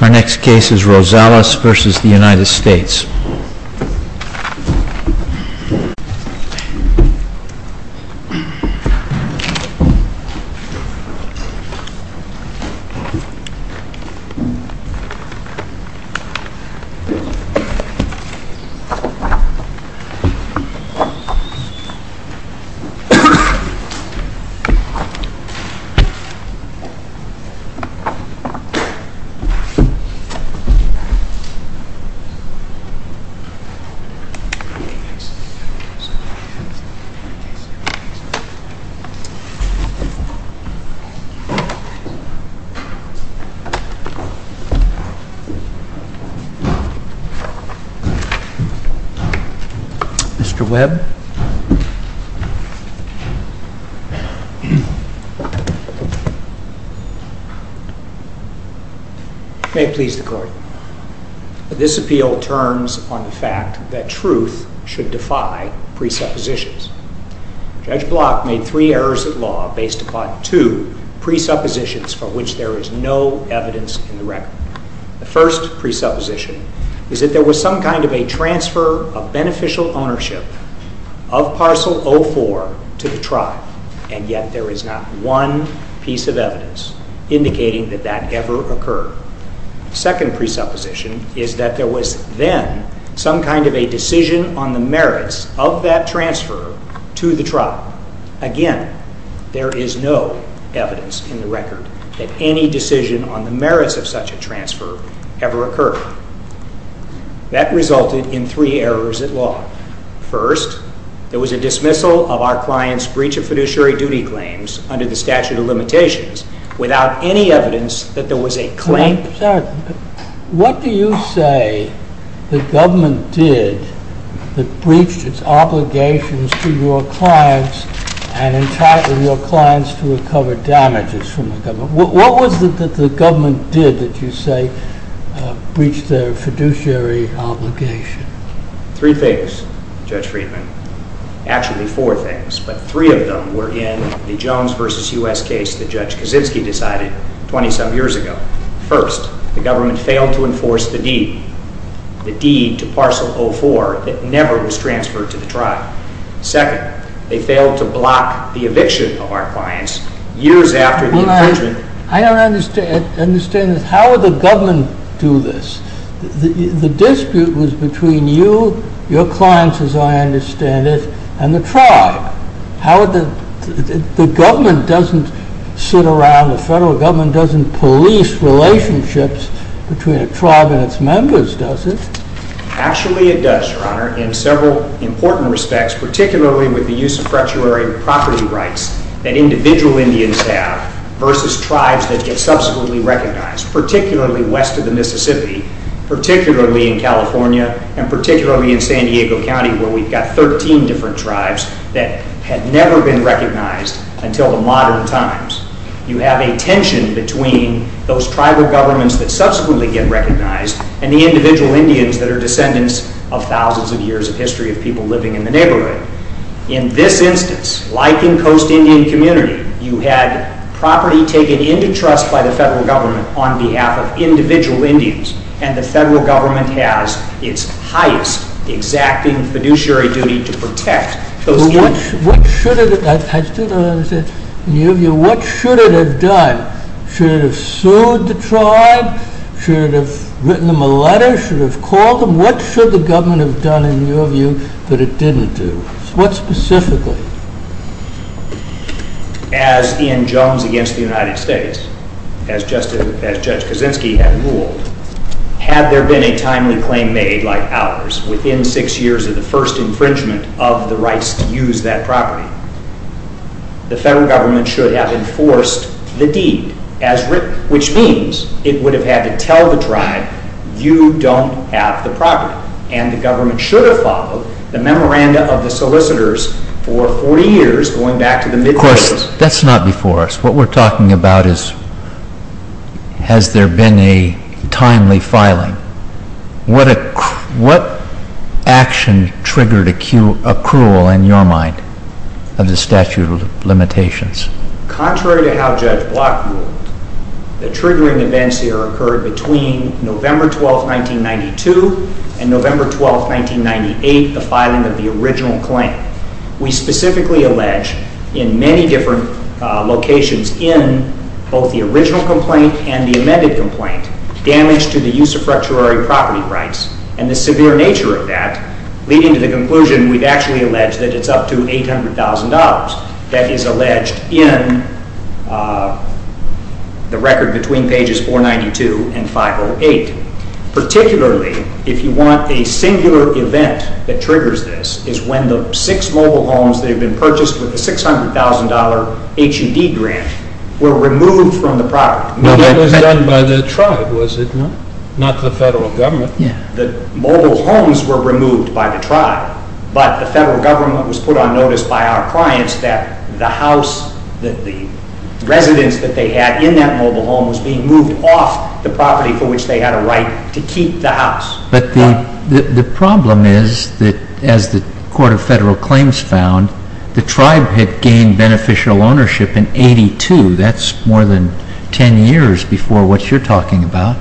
Our next case is ROSALES v. United States Mr. Webb May it please the Court, this appeal turns on the fact that truth should defy presuppositions. Judge Block made three errors of law based upon two presuppositions for which there is The first presupposition is that there was some kind of a transfer of beneficial ownership of parcel 04 to the tribe, and yet there is not one piece of evidence indicating that that ever occurred. The second presupposition is that there was then some kind of a decision on the merits of that transfer to the tribe. Again, there is no evidence in the record that any decision on the merits of such a transfer ever occurred. That resulted in three errors of law. First, there was a dismissal of our client's breach of fiduciary duty claims under the statute of limitations without any evidence that there was a claim. What do you say the government did that breached its obligations to your clients and entitled your clients to recover damages from the government? What was it that the government did that you say breached their fiduciary obligation? Three things, Judge Friedman. Actually, four things, but three of them were in the Jones v. U.S. case that Judge Kaczynski decided twenty-some years ago. First, the government failed to enforce the deed, the deed to parcel 04 that never was transferred to the tribe. Second, they failed to block the eviction of our clients years after the infringement. I don't understand this. How would the government do this? The dispute was between you, your clients as I understand it, and the tribe. The government doesn't sit around, the federal government doesn't police relationships between a tribe and its members, does it? Actually, it does, Your Honor, in several important respects, particularly with the use of fracturary property rights that individual Indians have versus tribes that get subsequently recognized, particularly west of the Mississippi, particularly in California, and particularly in San Diego County where we've got thirteen different tribes that had never been recognized until the modern times. You have a tension between those tribal governments that subsequently get recognized and the individual Indians that are descendants of thousands of years of history of people living in the neighborhood. In this instance, like in Coast Indian Community, you had property taken into trust by the federal government on behalf of individual Indians, and the federal government has its highest exacting fiduciary duty to protect those Indians. What should it have done? Should it have sued the tribe? Should it have written them a letter? Should it have called them? What should the government have done, in your view, that it didn't do? What specifically? As in Jones v. United States, as Judge Kaczynski had ruled, had there been a timely claim made, like ours, within six years of the first infringement of the rights to use that property, the federal government should have enforced the deed, which means it would have had to tell the tribe, you don't have the property, and the government should have followed the memoranda of the solicitors for 40 years, going back to the mid-thirties. Of course, that's not before us. What we're talking about is, has there been a timely filing? What action triggered accrual, in your mind, of the statute of limitations? Contrary to how Judge Block ruled, the triggering events here occurred between November 12, 1992, and November 12, 1998, the filing of the original claim. We specifically allege, in many different locations in both the original complaint and the amended complaint, damage to the use of fracturary property rights, and the severe nature of that, leading to the conclusion we've actually alleged that it's up to $800,000. That is alleged in the record between pages 492 and 508. Particularly, if you want a singular event that triggers this, is when the six mobile homes that have been purchased with the $600,000 HUD grant were removed from the property. That was done by the tribe, was it not? Not the federal government. The mobile homes were removed by the tribe, but the federal government was put on notice by our clients that the residence that they had in that mobile home was being moved off the property for which they had a right to keep the house. But the problem is that, as the Court of Federal Claims found, the tribe had gained beneficial ownership in 1982. That's more than 10 years before what you're talking about.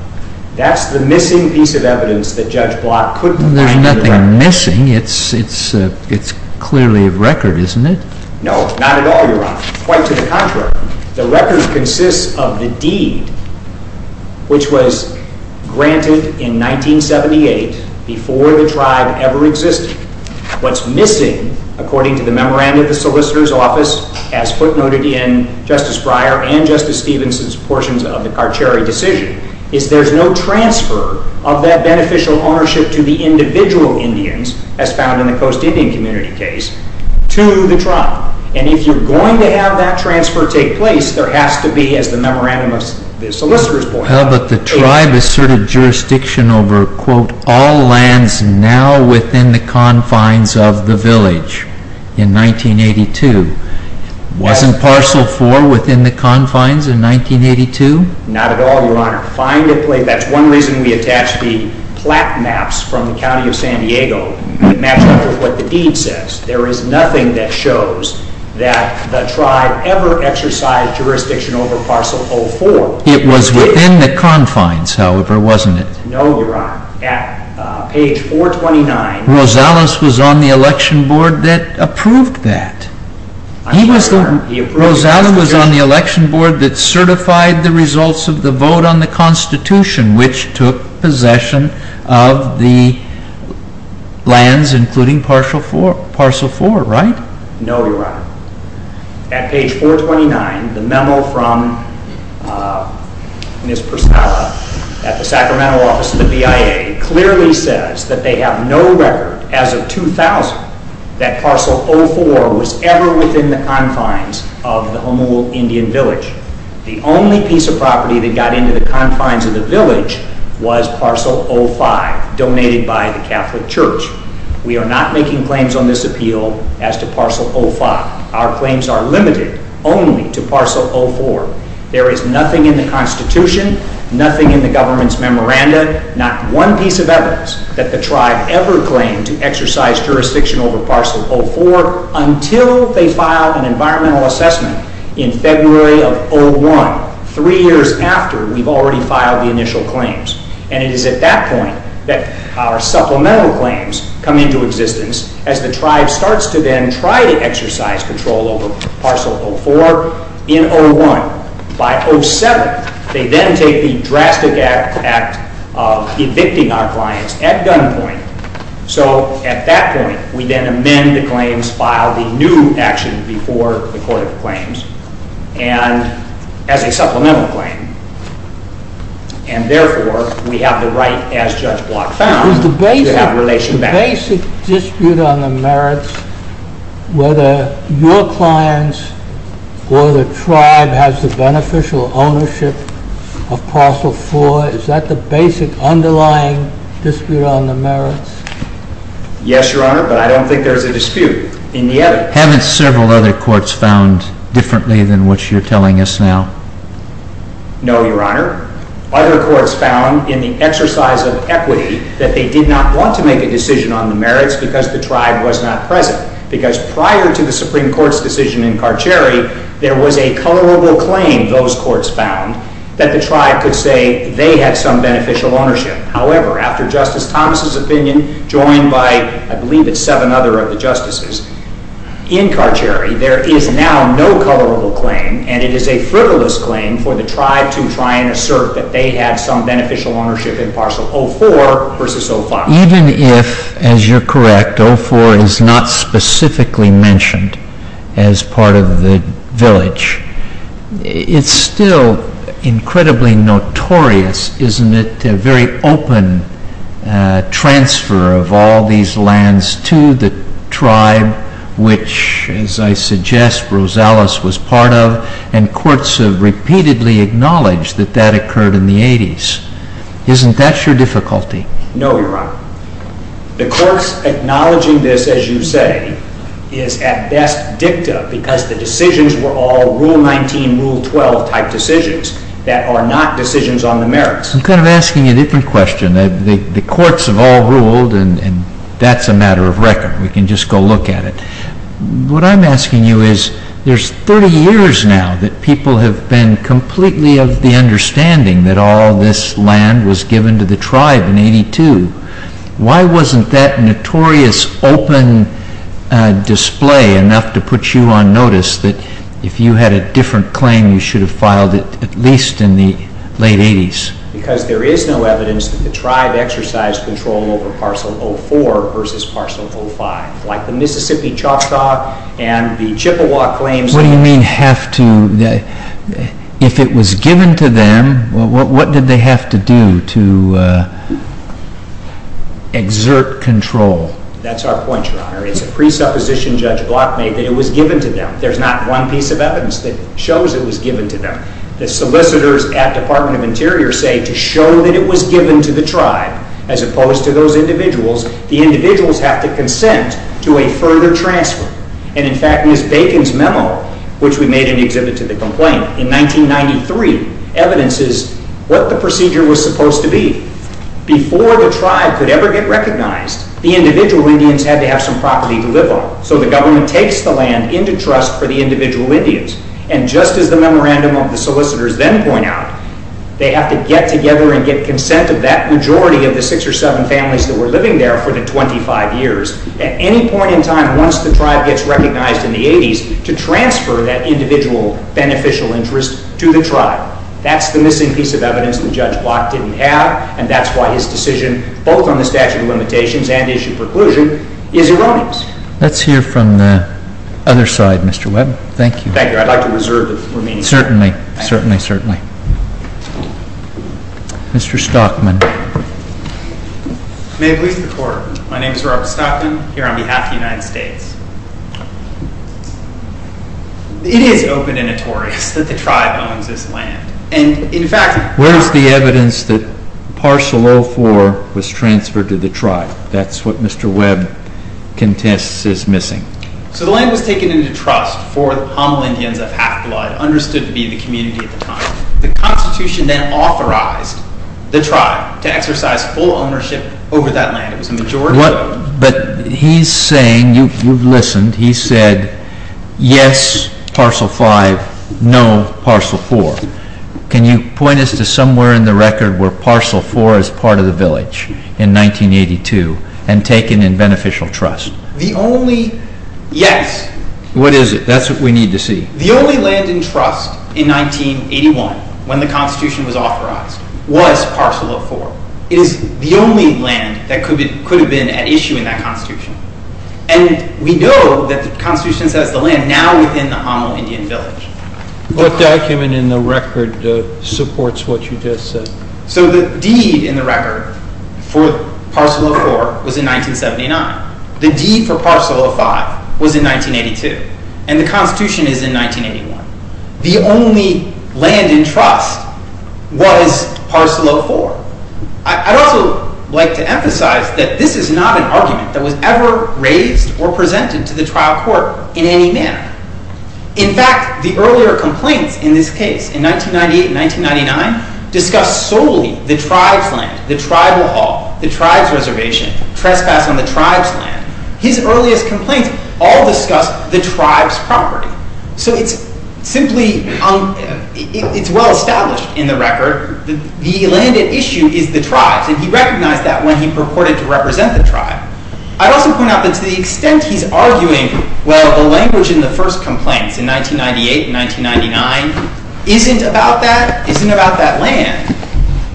That's the missing piece of evidence that Judge Block couldn't find in the record. What's missing? It's clearly a record, isn't it? No, not at all, Your Honor. Quite to the contrary. The record consists of the deed which was granted in 1978 before the tribe ever existed. What's missing, according to the memorandum of the solicitor's office, as footnoted in Justice Breyer and Justice Stephenson's portions of the Carcheri decision, is there's no transfer of that beneficial ownership to the individual Indians, as found in the Coast Indian community case, to the tribe. And if you're going to have that transfer take place, there has to be, as the memorandum of the solicitor's point— But the tribe asserted jurisdiction over, quote, all lands now within the confines of the village in 1982. Wasn't parcel 4 within the confines in 1982? Not at all, Your Honor. That's one reason we attach the plaque maps from the County of San Diego that match up with what the deed says. There is nothing that shows that the tribe ever exercised jurisdiction over parcel 04. It was within the confines, however, wasn't it? No, Your Honor. At page 429— Rosales was on the election board that approved that. Rosales was on the election board that certified the results of the vote on the Constitution, which took possession of the lands, including parcel 4, right? No, Your Honor. At page 429, the memo from Ms. Persala at the Sacramento office of the BIA clearly says that they have no record, as of 2000, that parcel 04 was ever within the confines of the Honolulu Indian Village. The only piece of property that got into the confines of the village was parcel 05, donated by the Catholic Church. We are not making claims on this appeal as to parcel 05. Our claims are limited only to parcel 04. There is nothing in the Constitution, nothing in the government's memoranda, not one piece of evidence that the tribe ever claimed to exercise jurisdiction over parcel 04 until they file an environmental assessment in February of 2001, three years after we've already filed the initial claims. And it is at that point that our supplemental claims come into existence as the tribe starts to then try to exercise control over parcel 04 in 2001. By 07, they then take the drastic act of evicting our clients at gunpoint. So at that point, we then amend the claims, file the new action before the Court of Claims as a supplemental claim. And therefore, we have the right, as Judge Block found, to have relation back. Is there a basic dispute on the merits whether your clients or the tribe has the beneficial ownership of parcel 04? Is that the basic underlying dispute on the merits? Yes, Your Honor, but I don't think there's a dispute in the evidence. Haven't several other courts found differently than what you're telling us now? No, Your Honor. Other courts found in the exercise of equity that they did not want to make a decision on the merits because the tribe was not present. Because prior to the Supreme Court's decision in Carcheri, there was a colorable claim, those courts found, that the tribe could say they had some beneficial ownership. However, after Justice Thomas' opinion, joined by, I believe it's seven other of the justices, in Carcheri, there is now no colorable claim, and it is a frivolous claim for the tribe to try and assert that they had some beneficial ownership in parcel 04 versus 04. Even if, as you're correct, 04 is not specifically mentioned as part of the village, it's still incredibly notorious. Isn't it a very open transfer of all these lands to the tribe, which, as I suggest, Rosales was part of, and courts have repeatedly acknowledged that that occurred in the 80s? Isn't that your difficulty? No, Your Honor. The courts acknowledging this, as you say, is at best dicta because the decisions were all Rule 19, Rule 12 type decisions that are not decisions on the merits. I'm kind of asking a different question. The courts have all ruled, and that's a matter of record. We can just go look at it. What I'm asking you is there's 30 years now that people have been completely of the understanding that all this land was given to the tribe in 82. Why wasn't that notorious open display enough to put you on notice that if you had a different claim, you should have filed it at least in the late 80s? Because there is no evidence that the tribe exercised control over Parcel 04 versus Parcel 05, like the Mississippi Choctaw and the Chippewa claims. What do you mean have to? If it was given to them, what did they have to do to exert control? That's our point, Your Honor. It's a presupposition Judge Block made that it was given to them. There's not one piece of evidence that shows it was given to them. The solicitors at Department of Interior say to show that it was given to the tribe as opposed to those individuals. The individuals have to consent to a further transfer. In fact, Ms. Bacon's memo, which we made in the exhibit to the complaint in 1993, evidences what the procedure was supposed to be. Before the tribe could ever get recognized, the individual Indians had to have some property to live on. So the government takes the land into trust for the individual Indians. Just as the memorandum of the solicitors then point out, they have to get together and get consent of that majority of the 6 or 7 families that were living there for the 25 years at any point in time once the tribe gets recognized in the 80s to transfer that individual beneficial interest to the tribe. That's the missing piece of evidence that Judge Block didn't have, and that's why his decision, both on the statute of limitations and the issue of preclusion, is erroneous. Let's hear from the other side, Mr. Webb. Thank you. Thank you. I'd like to reserve the remaining time. Certainly. Certainly, certainly. Mr. Stockman. May it please the Court. My name is Robert Stockman, here on behalf of the United States. It is open and notorious that the tribe owns this land. Where is the evidence that Parcel 04 was transferred to the tribe? That's what Mr. Webb contests is missing. So the land was taken into trust for the Homeland Indians of Half-Blood, understood to be the community at the time. The Constitution then authorized the tribe to exercise full ownership over that land. It was a majority vote. But he's saying, you've listened, he said, yes, Parcel 05, no, Parcel 04. Can you point us to somewhere in the record where Parcel 04 is part of the village in 1982 and taken in beneficial trust? The only, yes. What is it? That's what we need to see. The only land in trust in 1981, when the Constitution was authorized, was Parcel 04. It is the only land that could have been at issue in that Constitution. And we know that the Constitution says the land now within the Homeland Indian village. What document in the record supports what you just said? So the deed in the record for Parcel 04 was in 1979. The deed for Parcel 05 was in 1982. And the Constitution is in 1981. The only land in trust was Parcel 04. I'd also like to emphasize that this is not an argument that was ever raised or presented to the trial court in any manner. In fact, the earlier complaints in this case, in 1998 and 1999, discussed solely the tribe's land, the tribal hall, the tribe's reservation, trespass on the tribe's land. His earliest complaints all discussed the tribe's property. So it's simply well-established in the record. The land at issue is the tribe's, and he recognized that when he purported to represent the tribe. I'd also point out that to the extent he's arguing, well, the language in the first complaints in 1998 and 1999 isn't about that, isn't about that land,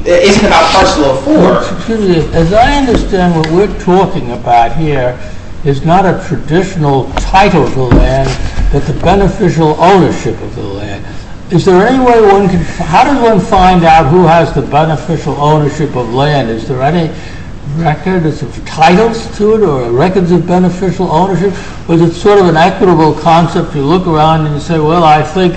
isn't about Parcel 04. Excuse me. As I understand, what we're talking about here is not a traditional title of the land, but the beneficial ownership of the land. How does one find out who has the beneficial ownership of land? Is there any record of titles to it or records of beneficial ownership? Or is it sort of an equitable concept? You look around and you say, well, I think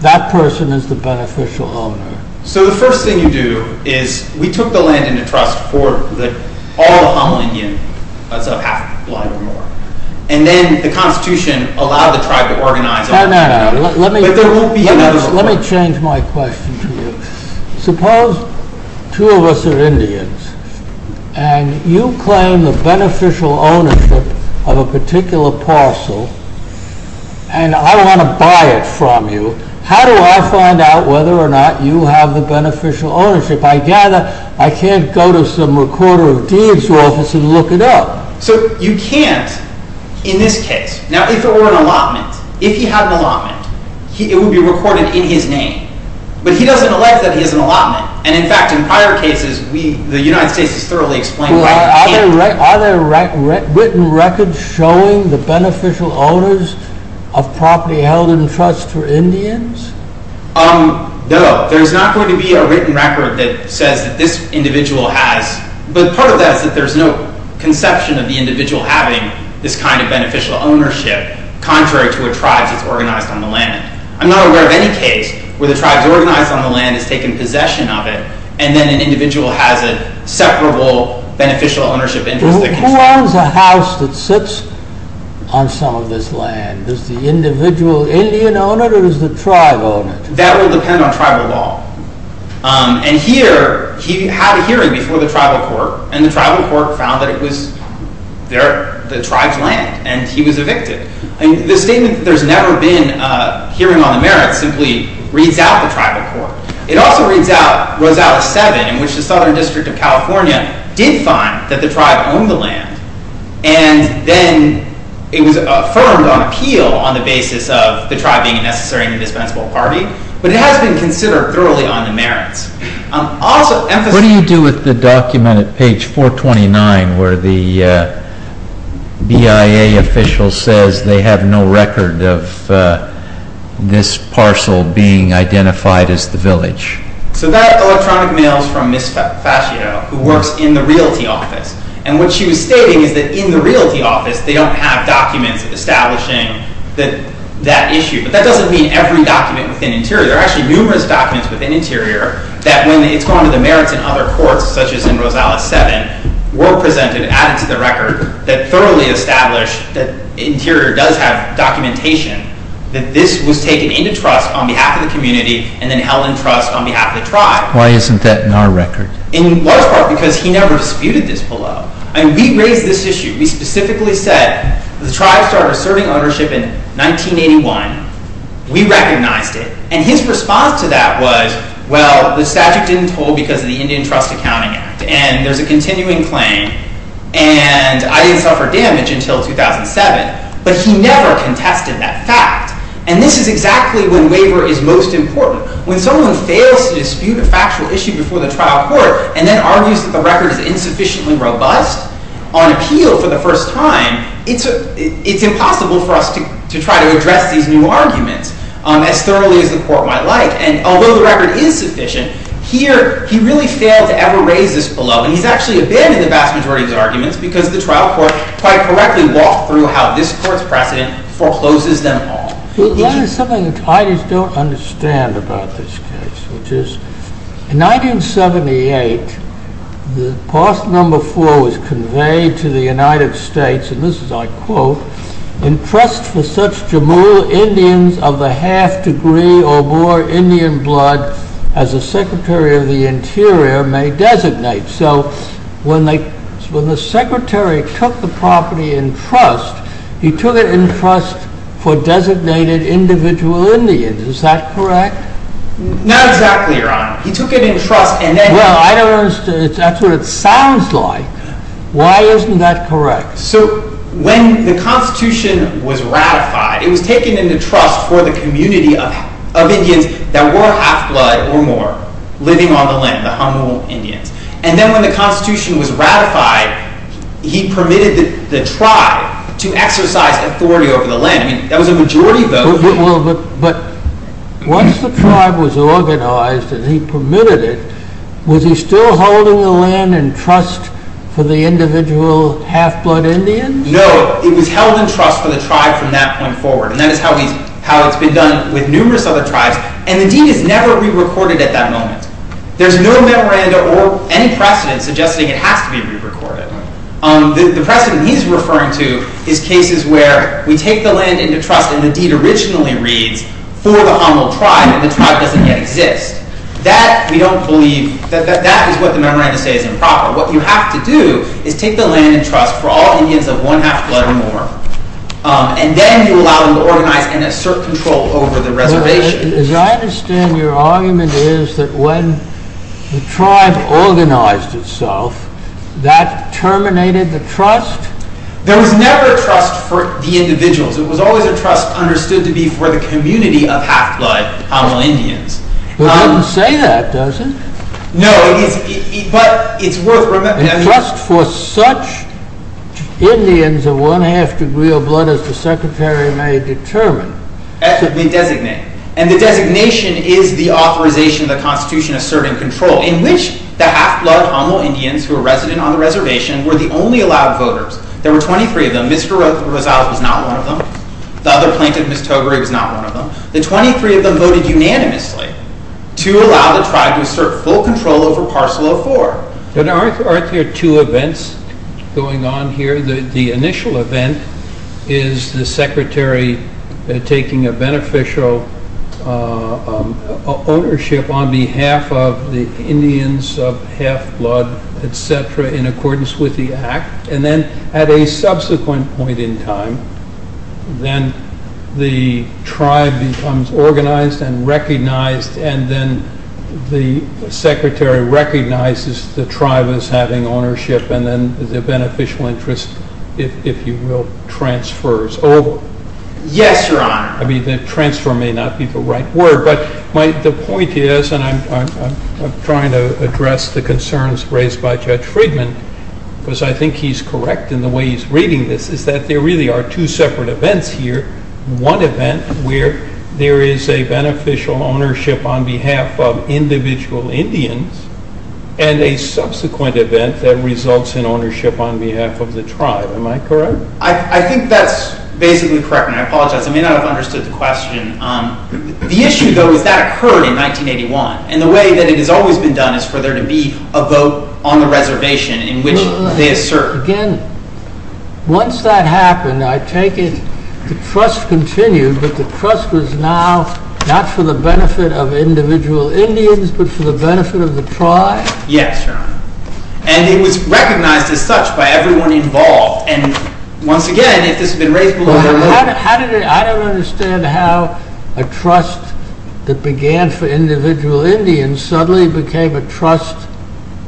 that person is the beneficial owner. So the first thing you do is, we took the land into trust for all the Honolulu Indians. That's a half a block or more. And then the Constitution allowed the tribe to organize. No, no, no. Let me change my question to you. Suppose two of us are Indians, and you claim the beneficial ownership of a particular parcel, and I want to buy it from you. How do I find out whether or not you have the beneficial ownership? I gather I can't go to some recorder of deeds office and look it up. So you can't in this case. Now, if it were an allotment, if he had an allotment, it would be recorded in his name. But he doesn't elect that he has an allotment. And in fact, in prior cases, the United States has thoroughly explained why he can't. Are there written records showing the beneficial owners of property held in trust for Indians? No, there's not going to be a written record that says that this individual has, but part of that is that there's no conception of the individual having this kind of beneficial ownership, contrary to a tribe that's organized on the land. I'm not aware of any case where the tribe's organized on the land has taken possession of it, and then an individual has a separable beneficial ownership interest. Who owns a house that sits on some of this land? Does the individual Indian own it, or does the tribe own it? That will depend on tribal law. And here, he had a hearing before the tribal court, and the tribal court found that it was the tribe's land, and he was evicted. The statement that there's never been a hearing on the merits simply reads out the tribal court. It also reads out Rosales 7, in which the Southern District of California did find that the tribe owned the land, and then it was affirmed on appeal on the basis of the tribe being a necessary and indispensable party, but it has been considered thoroughly on the merits. What do you do with the document at page 429, where the BIA official says they have no record of this parcel being identified as the village? So that electronic mail is from Ms. Fascio, who works in the Realty Office. And what she was stating is that in the Realty Office, they don't have documents establishing that issue. But that doesn't mean every document within Interior. There are actually numerous documents within Interior that when it's gone to the merits in other courts, such as in Rosales 7, were presented, added to the record, that thoroughly established that Interior does have documentation that this was taken into trust on behalf of the community and then held in trust on behalf of the tribe. Why isn't that in our record? In large part because he never disputed this below. I mean, we raised this issue. We specifically said the tribe started serving ownership in 1981. We recognized it. And his response to that was, well, the statute didn't hold because of the Indian Trust Accounting Act, and there's a continuing claim, and I didn't suffer damage until 2007. But he never contested that fact. And this is exactly when waiver is most important. When someone fails to dispute a factual issue before the trial court and then argues that the record is insufficiently robust, on appeal for the first time, it's impossible for us to try to address these new arguments as thoroughly as the court might like. And although the record is sufficient, here he really failed to ever raise this below. And he's actually abandoned the vast majority of his arguments because the trial court quite correctly walked through how this court's precedent forecloses them all. There's something that I just don't understand about this case, which is, in 1978, the Pass No. 4 was conveyed to the United States, and this is my quote, in trust for such Jamul Indians of the half degree or more Indian blood as the Secretary of the Interior may designate. So, when the Secretary took the property in trust, he took it in trust for designated individual Indians. Is that correct? Not exactly, Your Honor. He took it in trust and then... Well, I don't understand. That's what it sounds like. Why isn't that correct? So, when the Constitution was ratified, it was taken into trust for the community of Indians that were half-blood or more, living on the land, the Jamul Indians. And then when the Constitution was ratified, he permitted the tribe to exercise authority over the land. I mean, that was a majority vote. But once the tribe was organized and he permitted it, was he still holding the land in trust for the individual half-blood Indians? No. It was held in trust for the tribe from that point forward, and that is how it's been done with numerous other tribes. And the deed is never re-recorded at that moment. There's no memoranda or any precedent suggesting it has to be re-recorded. The precedent he's referring to is cases where we take the land into trust and the deed originally reads, for the Jamul tribe, and the tribe doesn't yet exist. That, we don't believe... That is what the memoranda says is improper. What you have to do is take the land in trust for all Indians of one half-blood or more, and then you allow them to organize and assert control over the reservation. As I understand, your argument is that when the tribe organized itself, that terminated the trust? There was never trust for the individuals. It was always a trust understood to be for the community of half-blood Jamul Indians. It doesn't say that, does it? No, but it's worth remembering... A trust for such Indians of one half-degree of blood as the Secretary may determine. As it may designate. And the designation is the authorization of the Constitution asserting control, in which the half-blood Jamul Indians who are resident on the reservation were the only allowed voters. There were 23 of them. Ms. Garotha Rosales was not one of them. The other plaintiff, Ms. Togary, was not one of them. The 23 of them voted unanimously to allow the tribe to assert full control over Parcel 04. Aren't there two events going on here? The initial event is the Secretary taking a beneficial ownership on behalf of the Indians of half-blood, etc., in accordance with the Act. And then, at a subsequent point in time, then the tribe becomes organized and recognized, and then the Secretary recognizes the tribe as having ownership, and then the beneficial interest, if you will, transfers over. Yes, Your Honor. I mean, the transfer may not be the right word, but the point is, and I'm trying to address the concerns raised by Judge Friedman, because I think he's correct in the way he's reading this, is that there really are two separate events here. One event where there is a beneficial ownership on behalf of individual Indians, and a subsequent event that results in ownership on behalf of the tribe. Am I correct? I think that's basically correct, and I apologize. I may not have understood the question. The issue, though, is that occurred in 1981, and the way that it has always been done is for there to be a vote on the reservation in which they assert. Again, once that happened, I take it the trust continued, but the trust was now not for the benefit of individual Indians, but for the benefit of the tribe? Yes, Your Honor. And it was recognized as such by everyone involved, and once again, if this had been raised... I don't understand how a trust that began for individual Indians suddenly became a trust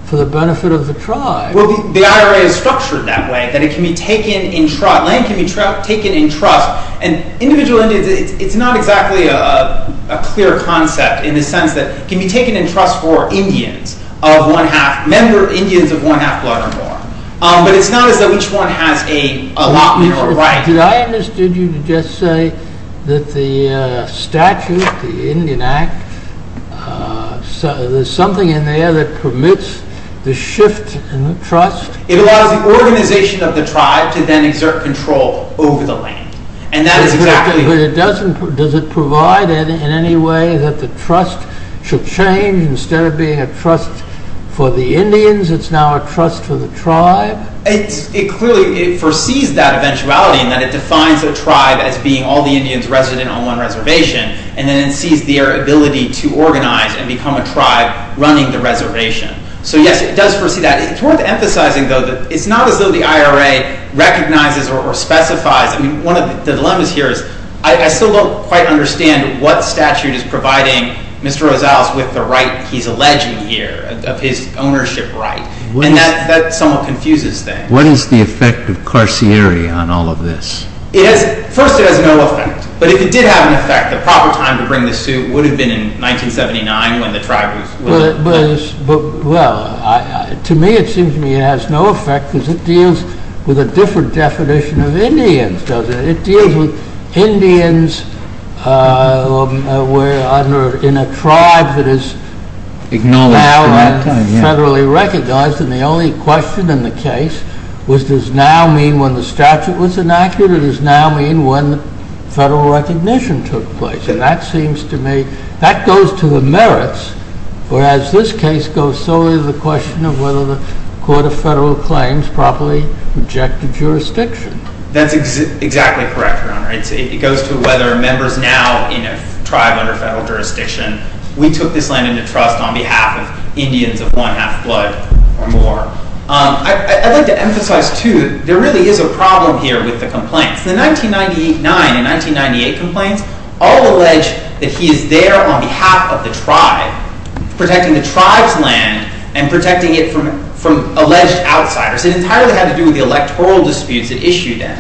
for the benefit of the tribe. Well, the IRA is structured that way, that land can be taken in trust, and individual Indians, it's not exactly a clear concept in the sense that it can be taken in trust for Indians of one-half, member Indians of one-half blood or more. But it's not as though each one has a lot more right. Did I understand you to just say that the statute, the Indian Act, there's something in there that permits the shift in the trust? It allows the organization of the tribe to then exert control over the land, and that is exactly... But does it provide in any way that the trust should change to instead of being a trust for the Indians, it's now a trust for the tribe? It clearly foresees that eventuality, in that it defines a tribe as being all the Indians resident on one reservation, and then it sees their ability to organize and become a tribe running the reservation. So yes, it does foresee that. It's worth emphasizing, though, that it's not as though the IRA recognizes or specifies... I mean, one of the dilemmas here is I still don't quite understand what statute is providing Mr. Rosales with the right he's alleging here, of his ownership right, and that somewhat confuses things. What is the effect of carceri on all of this? First, it has no effect, but if it did have an effect, the proper time to bring the suit would have been in 1979 when the tribe was... Well, to me it seems to me it has no effect because it deals with a different definition of Indians, doesn't it? It deals with Indians in a tribe that is now federally recognized, and the only question in the case was does now mean when the statute was enacted or does now mean when the federal recognition took place? And that seems to me... That goes to the merits, whereas this case goes solely to the question of whether the Court of Federal Claims properly rejected jurisdiction. That's exactly correct, Your Honor. It goes to whether members now in a tribe under federal jurisdiction, we took this land into trust on behalf of Indians of one half blood or more. I'd like to emphasize, too, there really is a problem here with the complaints. The 1999 and 1998 complaints all allege that he is there on behalf of the tribe protecting the tribe's land and protecting it from alleged outsiders. It entirely had to do with the electoral disputes it issued in.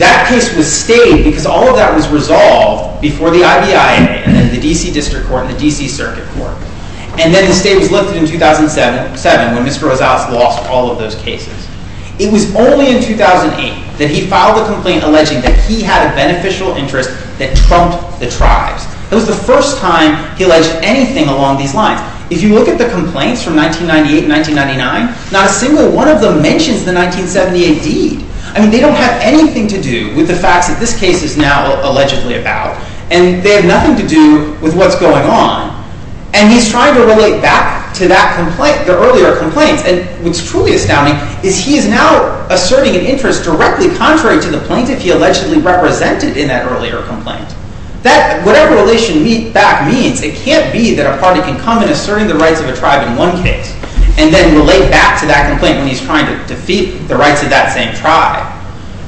That case was stayed because all of that was resolved before the IBIA and the D.C. District Court and the D.C. Circuit Court. And then the state was lifted in 2007 when Mr. Rosales lost all of those cases. It was only in 2008 that he filed a complaint alleging that he had a beneficial interest that trumped the tribes. It was the first time he alleged anything along these lines. If you look at the complaints from 1998 and 1999, not a single one of them mentions the 1978 deed. I mean, they don't have anything to do with the facts that this case is now allegedly about. And they have nothing to do with what's going on. And he's trying to relate back to that complaint, the earlier complaints. And what's truly astounding is he is now asserting an interest directly contrary to the plaintiff he allegedly represented in that earlier complaint. Whatever relation that means, it can't be that a party can come and assert the rights of a tribe in one case and then relate back to that complaint when he's trying to defeat the rights of that same tribe.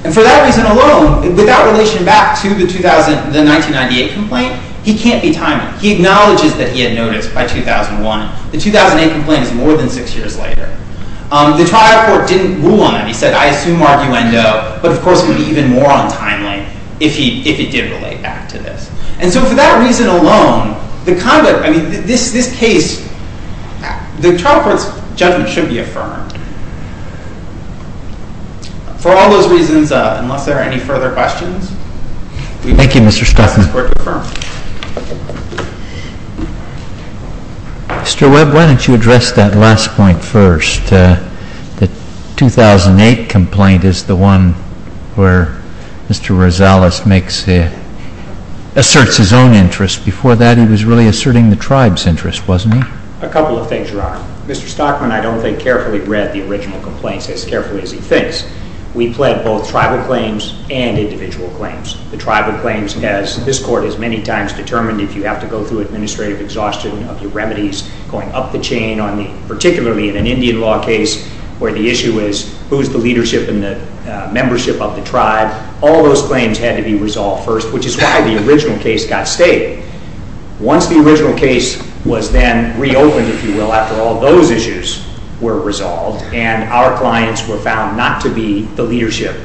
And for that reason alone, without relation back to the 1998 complaint, he can't be timely. He acknowledges that he had noticed by 2001. The 2008 complaint is more than six years later. The tribe court didn't rule on it. He said, I assume arguendo, but of course it would be even more untimely if he did relate back to this. And so for that reason alone, the conduct, I mean, this case, the trial court's judgment should be affirmed. For all those reasons, unless there are any further questions, we'd like this court to affirm. Mr. Webb, why don't you address that last point first? The 2008 complaint is the one where Mr. Rosales asserts his own interest. Before that, he was really asserting the tribe's interest, wasn't he? A couple of things, Your Honor. Mr. Stockman, I don't think, carefully read the original complaints as carefully as he thinks. We pled both tribal claims and individual claims. The tribal claims, as this court has many times determined, if you have to go through administrative exhaustion of your remedies, going up the chain, particularly in an Indian law case where the issue is, who's the leadership and the membership of the tribe, all those claims had to be resolved first, which is why the original case got stated. Once the original case was then reopened, if you will, after all those issues were resolved and our clients were found not to be the leadership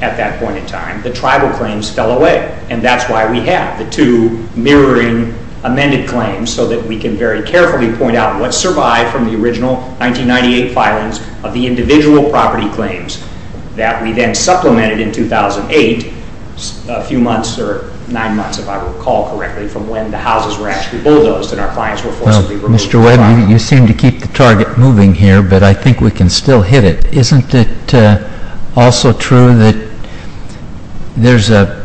at that point in time, the tribal claims fell away. And that's why we have the two mirroring amended claims so that we can very carefully point out what survived from the original 1998 filings of the individual property claims that we then supplemented in 2008, a few months or nine months, if I recall correctly, from when the houses were actually bulldozed and our clients were forcibly removed. Well, Mr. Webb, you seem to keep the target moving here, but I think we can still hit it. Isn't it also true that there's a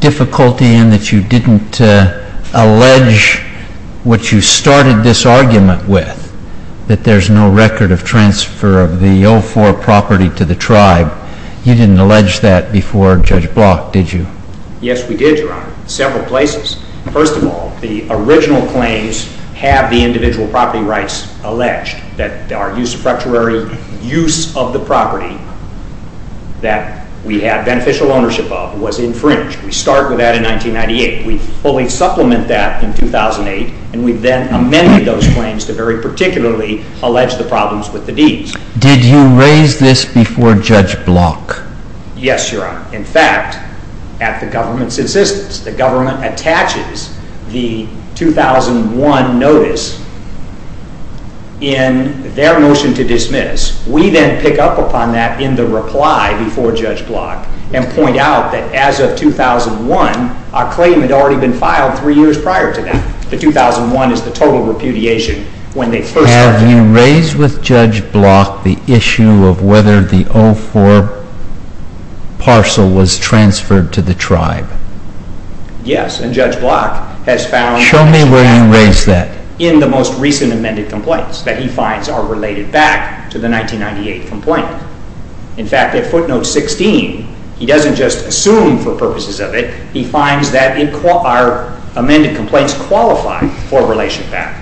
difficulty in that you didn't allege what you started this argument with, that there's no record of transfer of the 04 property to the tribe? You didn't allege that before Judge Block, did you? Yes, we did, Your Honor. Several places. First of all, the original claims have the individual property rights alleged that our usurpatory use of the property that we had beneficial ownership of was infringed. We start with that in 1998. We fully supplement that in 2008, and we then amended those claims to very particularly allege the problems with the deeds. Did you raise this before Judge Block? Yes, Your Honor. In fact, at the government's insistence, the government attaches the 2001 notice in their motion to dismiss. We then pick up upon that in the reply before Judge Block and point out that as of 2001, our claim had already been filed three years prior to that. The 2001 is the total repudiation when they first started. Have you raised with Judge Block the issue of whether the 04 parcel was transferred to the tribe? Yes, and Judge Block has found Show me where you raised that. in the most recent amended complaints that he finds are related back to the 1998 complaint. In fact, at footnote 16, he doesn't just assume for purposes of it, he finds that our amended complaints qualify for a relationship back.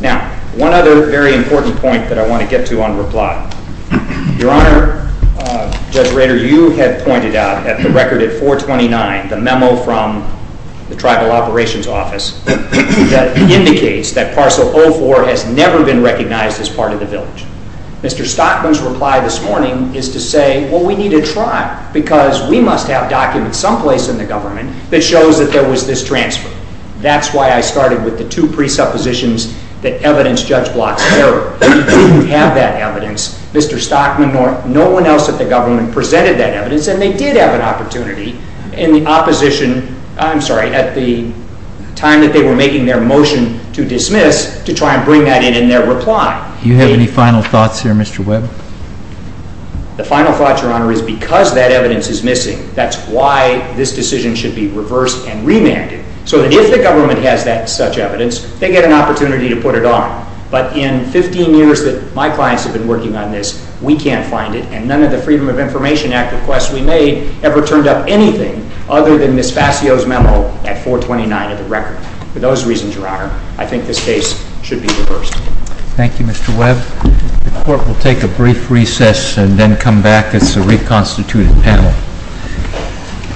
Now, one other very important point that I want to get to on reply. Your Honor, Judge Rader, you had pointed out at the record at 429, the memo from the Tribal Operations Office that indicates that parcel 04 has never been recognized as part of the village. Mr. Stockman's reply this morning is to say, well, we need a tribe because we must have documents someplace in the government that shows that there was this transfer. That's why I started with the two presuppositions that evidence Judge Block's error. We didn't have that evidence. Mr. Stockman nor no one else at the government presented that evidence and they did have an opportunity in the opposition, I'm sorry, at the time that they were making their motion to dismiss to try and bring that in in their reply. Do you have any final thoughts here, Mr. Webb? The final thought, Your Honor, is because that evidence is missing, that's why this decision should be reversed and remanded. So that if the government has that such evidence, they get an opportunity to put it on. But in 15 years that my clients have been working on this, we can't find it and none of the Freedom of Information Act requests we made ever turned up anything other than Ms. Fascio's memo at 429 of the record. For those reasons, Your Honor, I think this case should be reversed. Thank you, Mr. Webb. The Court will take a brief recess and then come back as a reconstituted panel.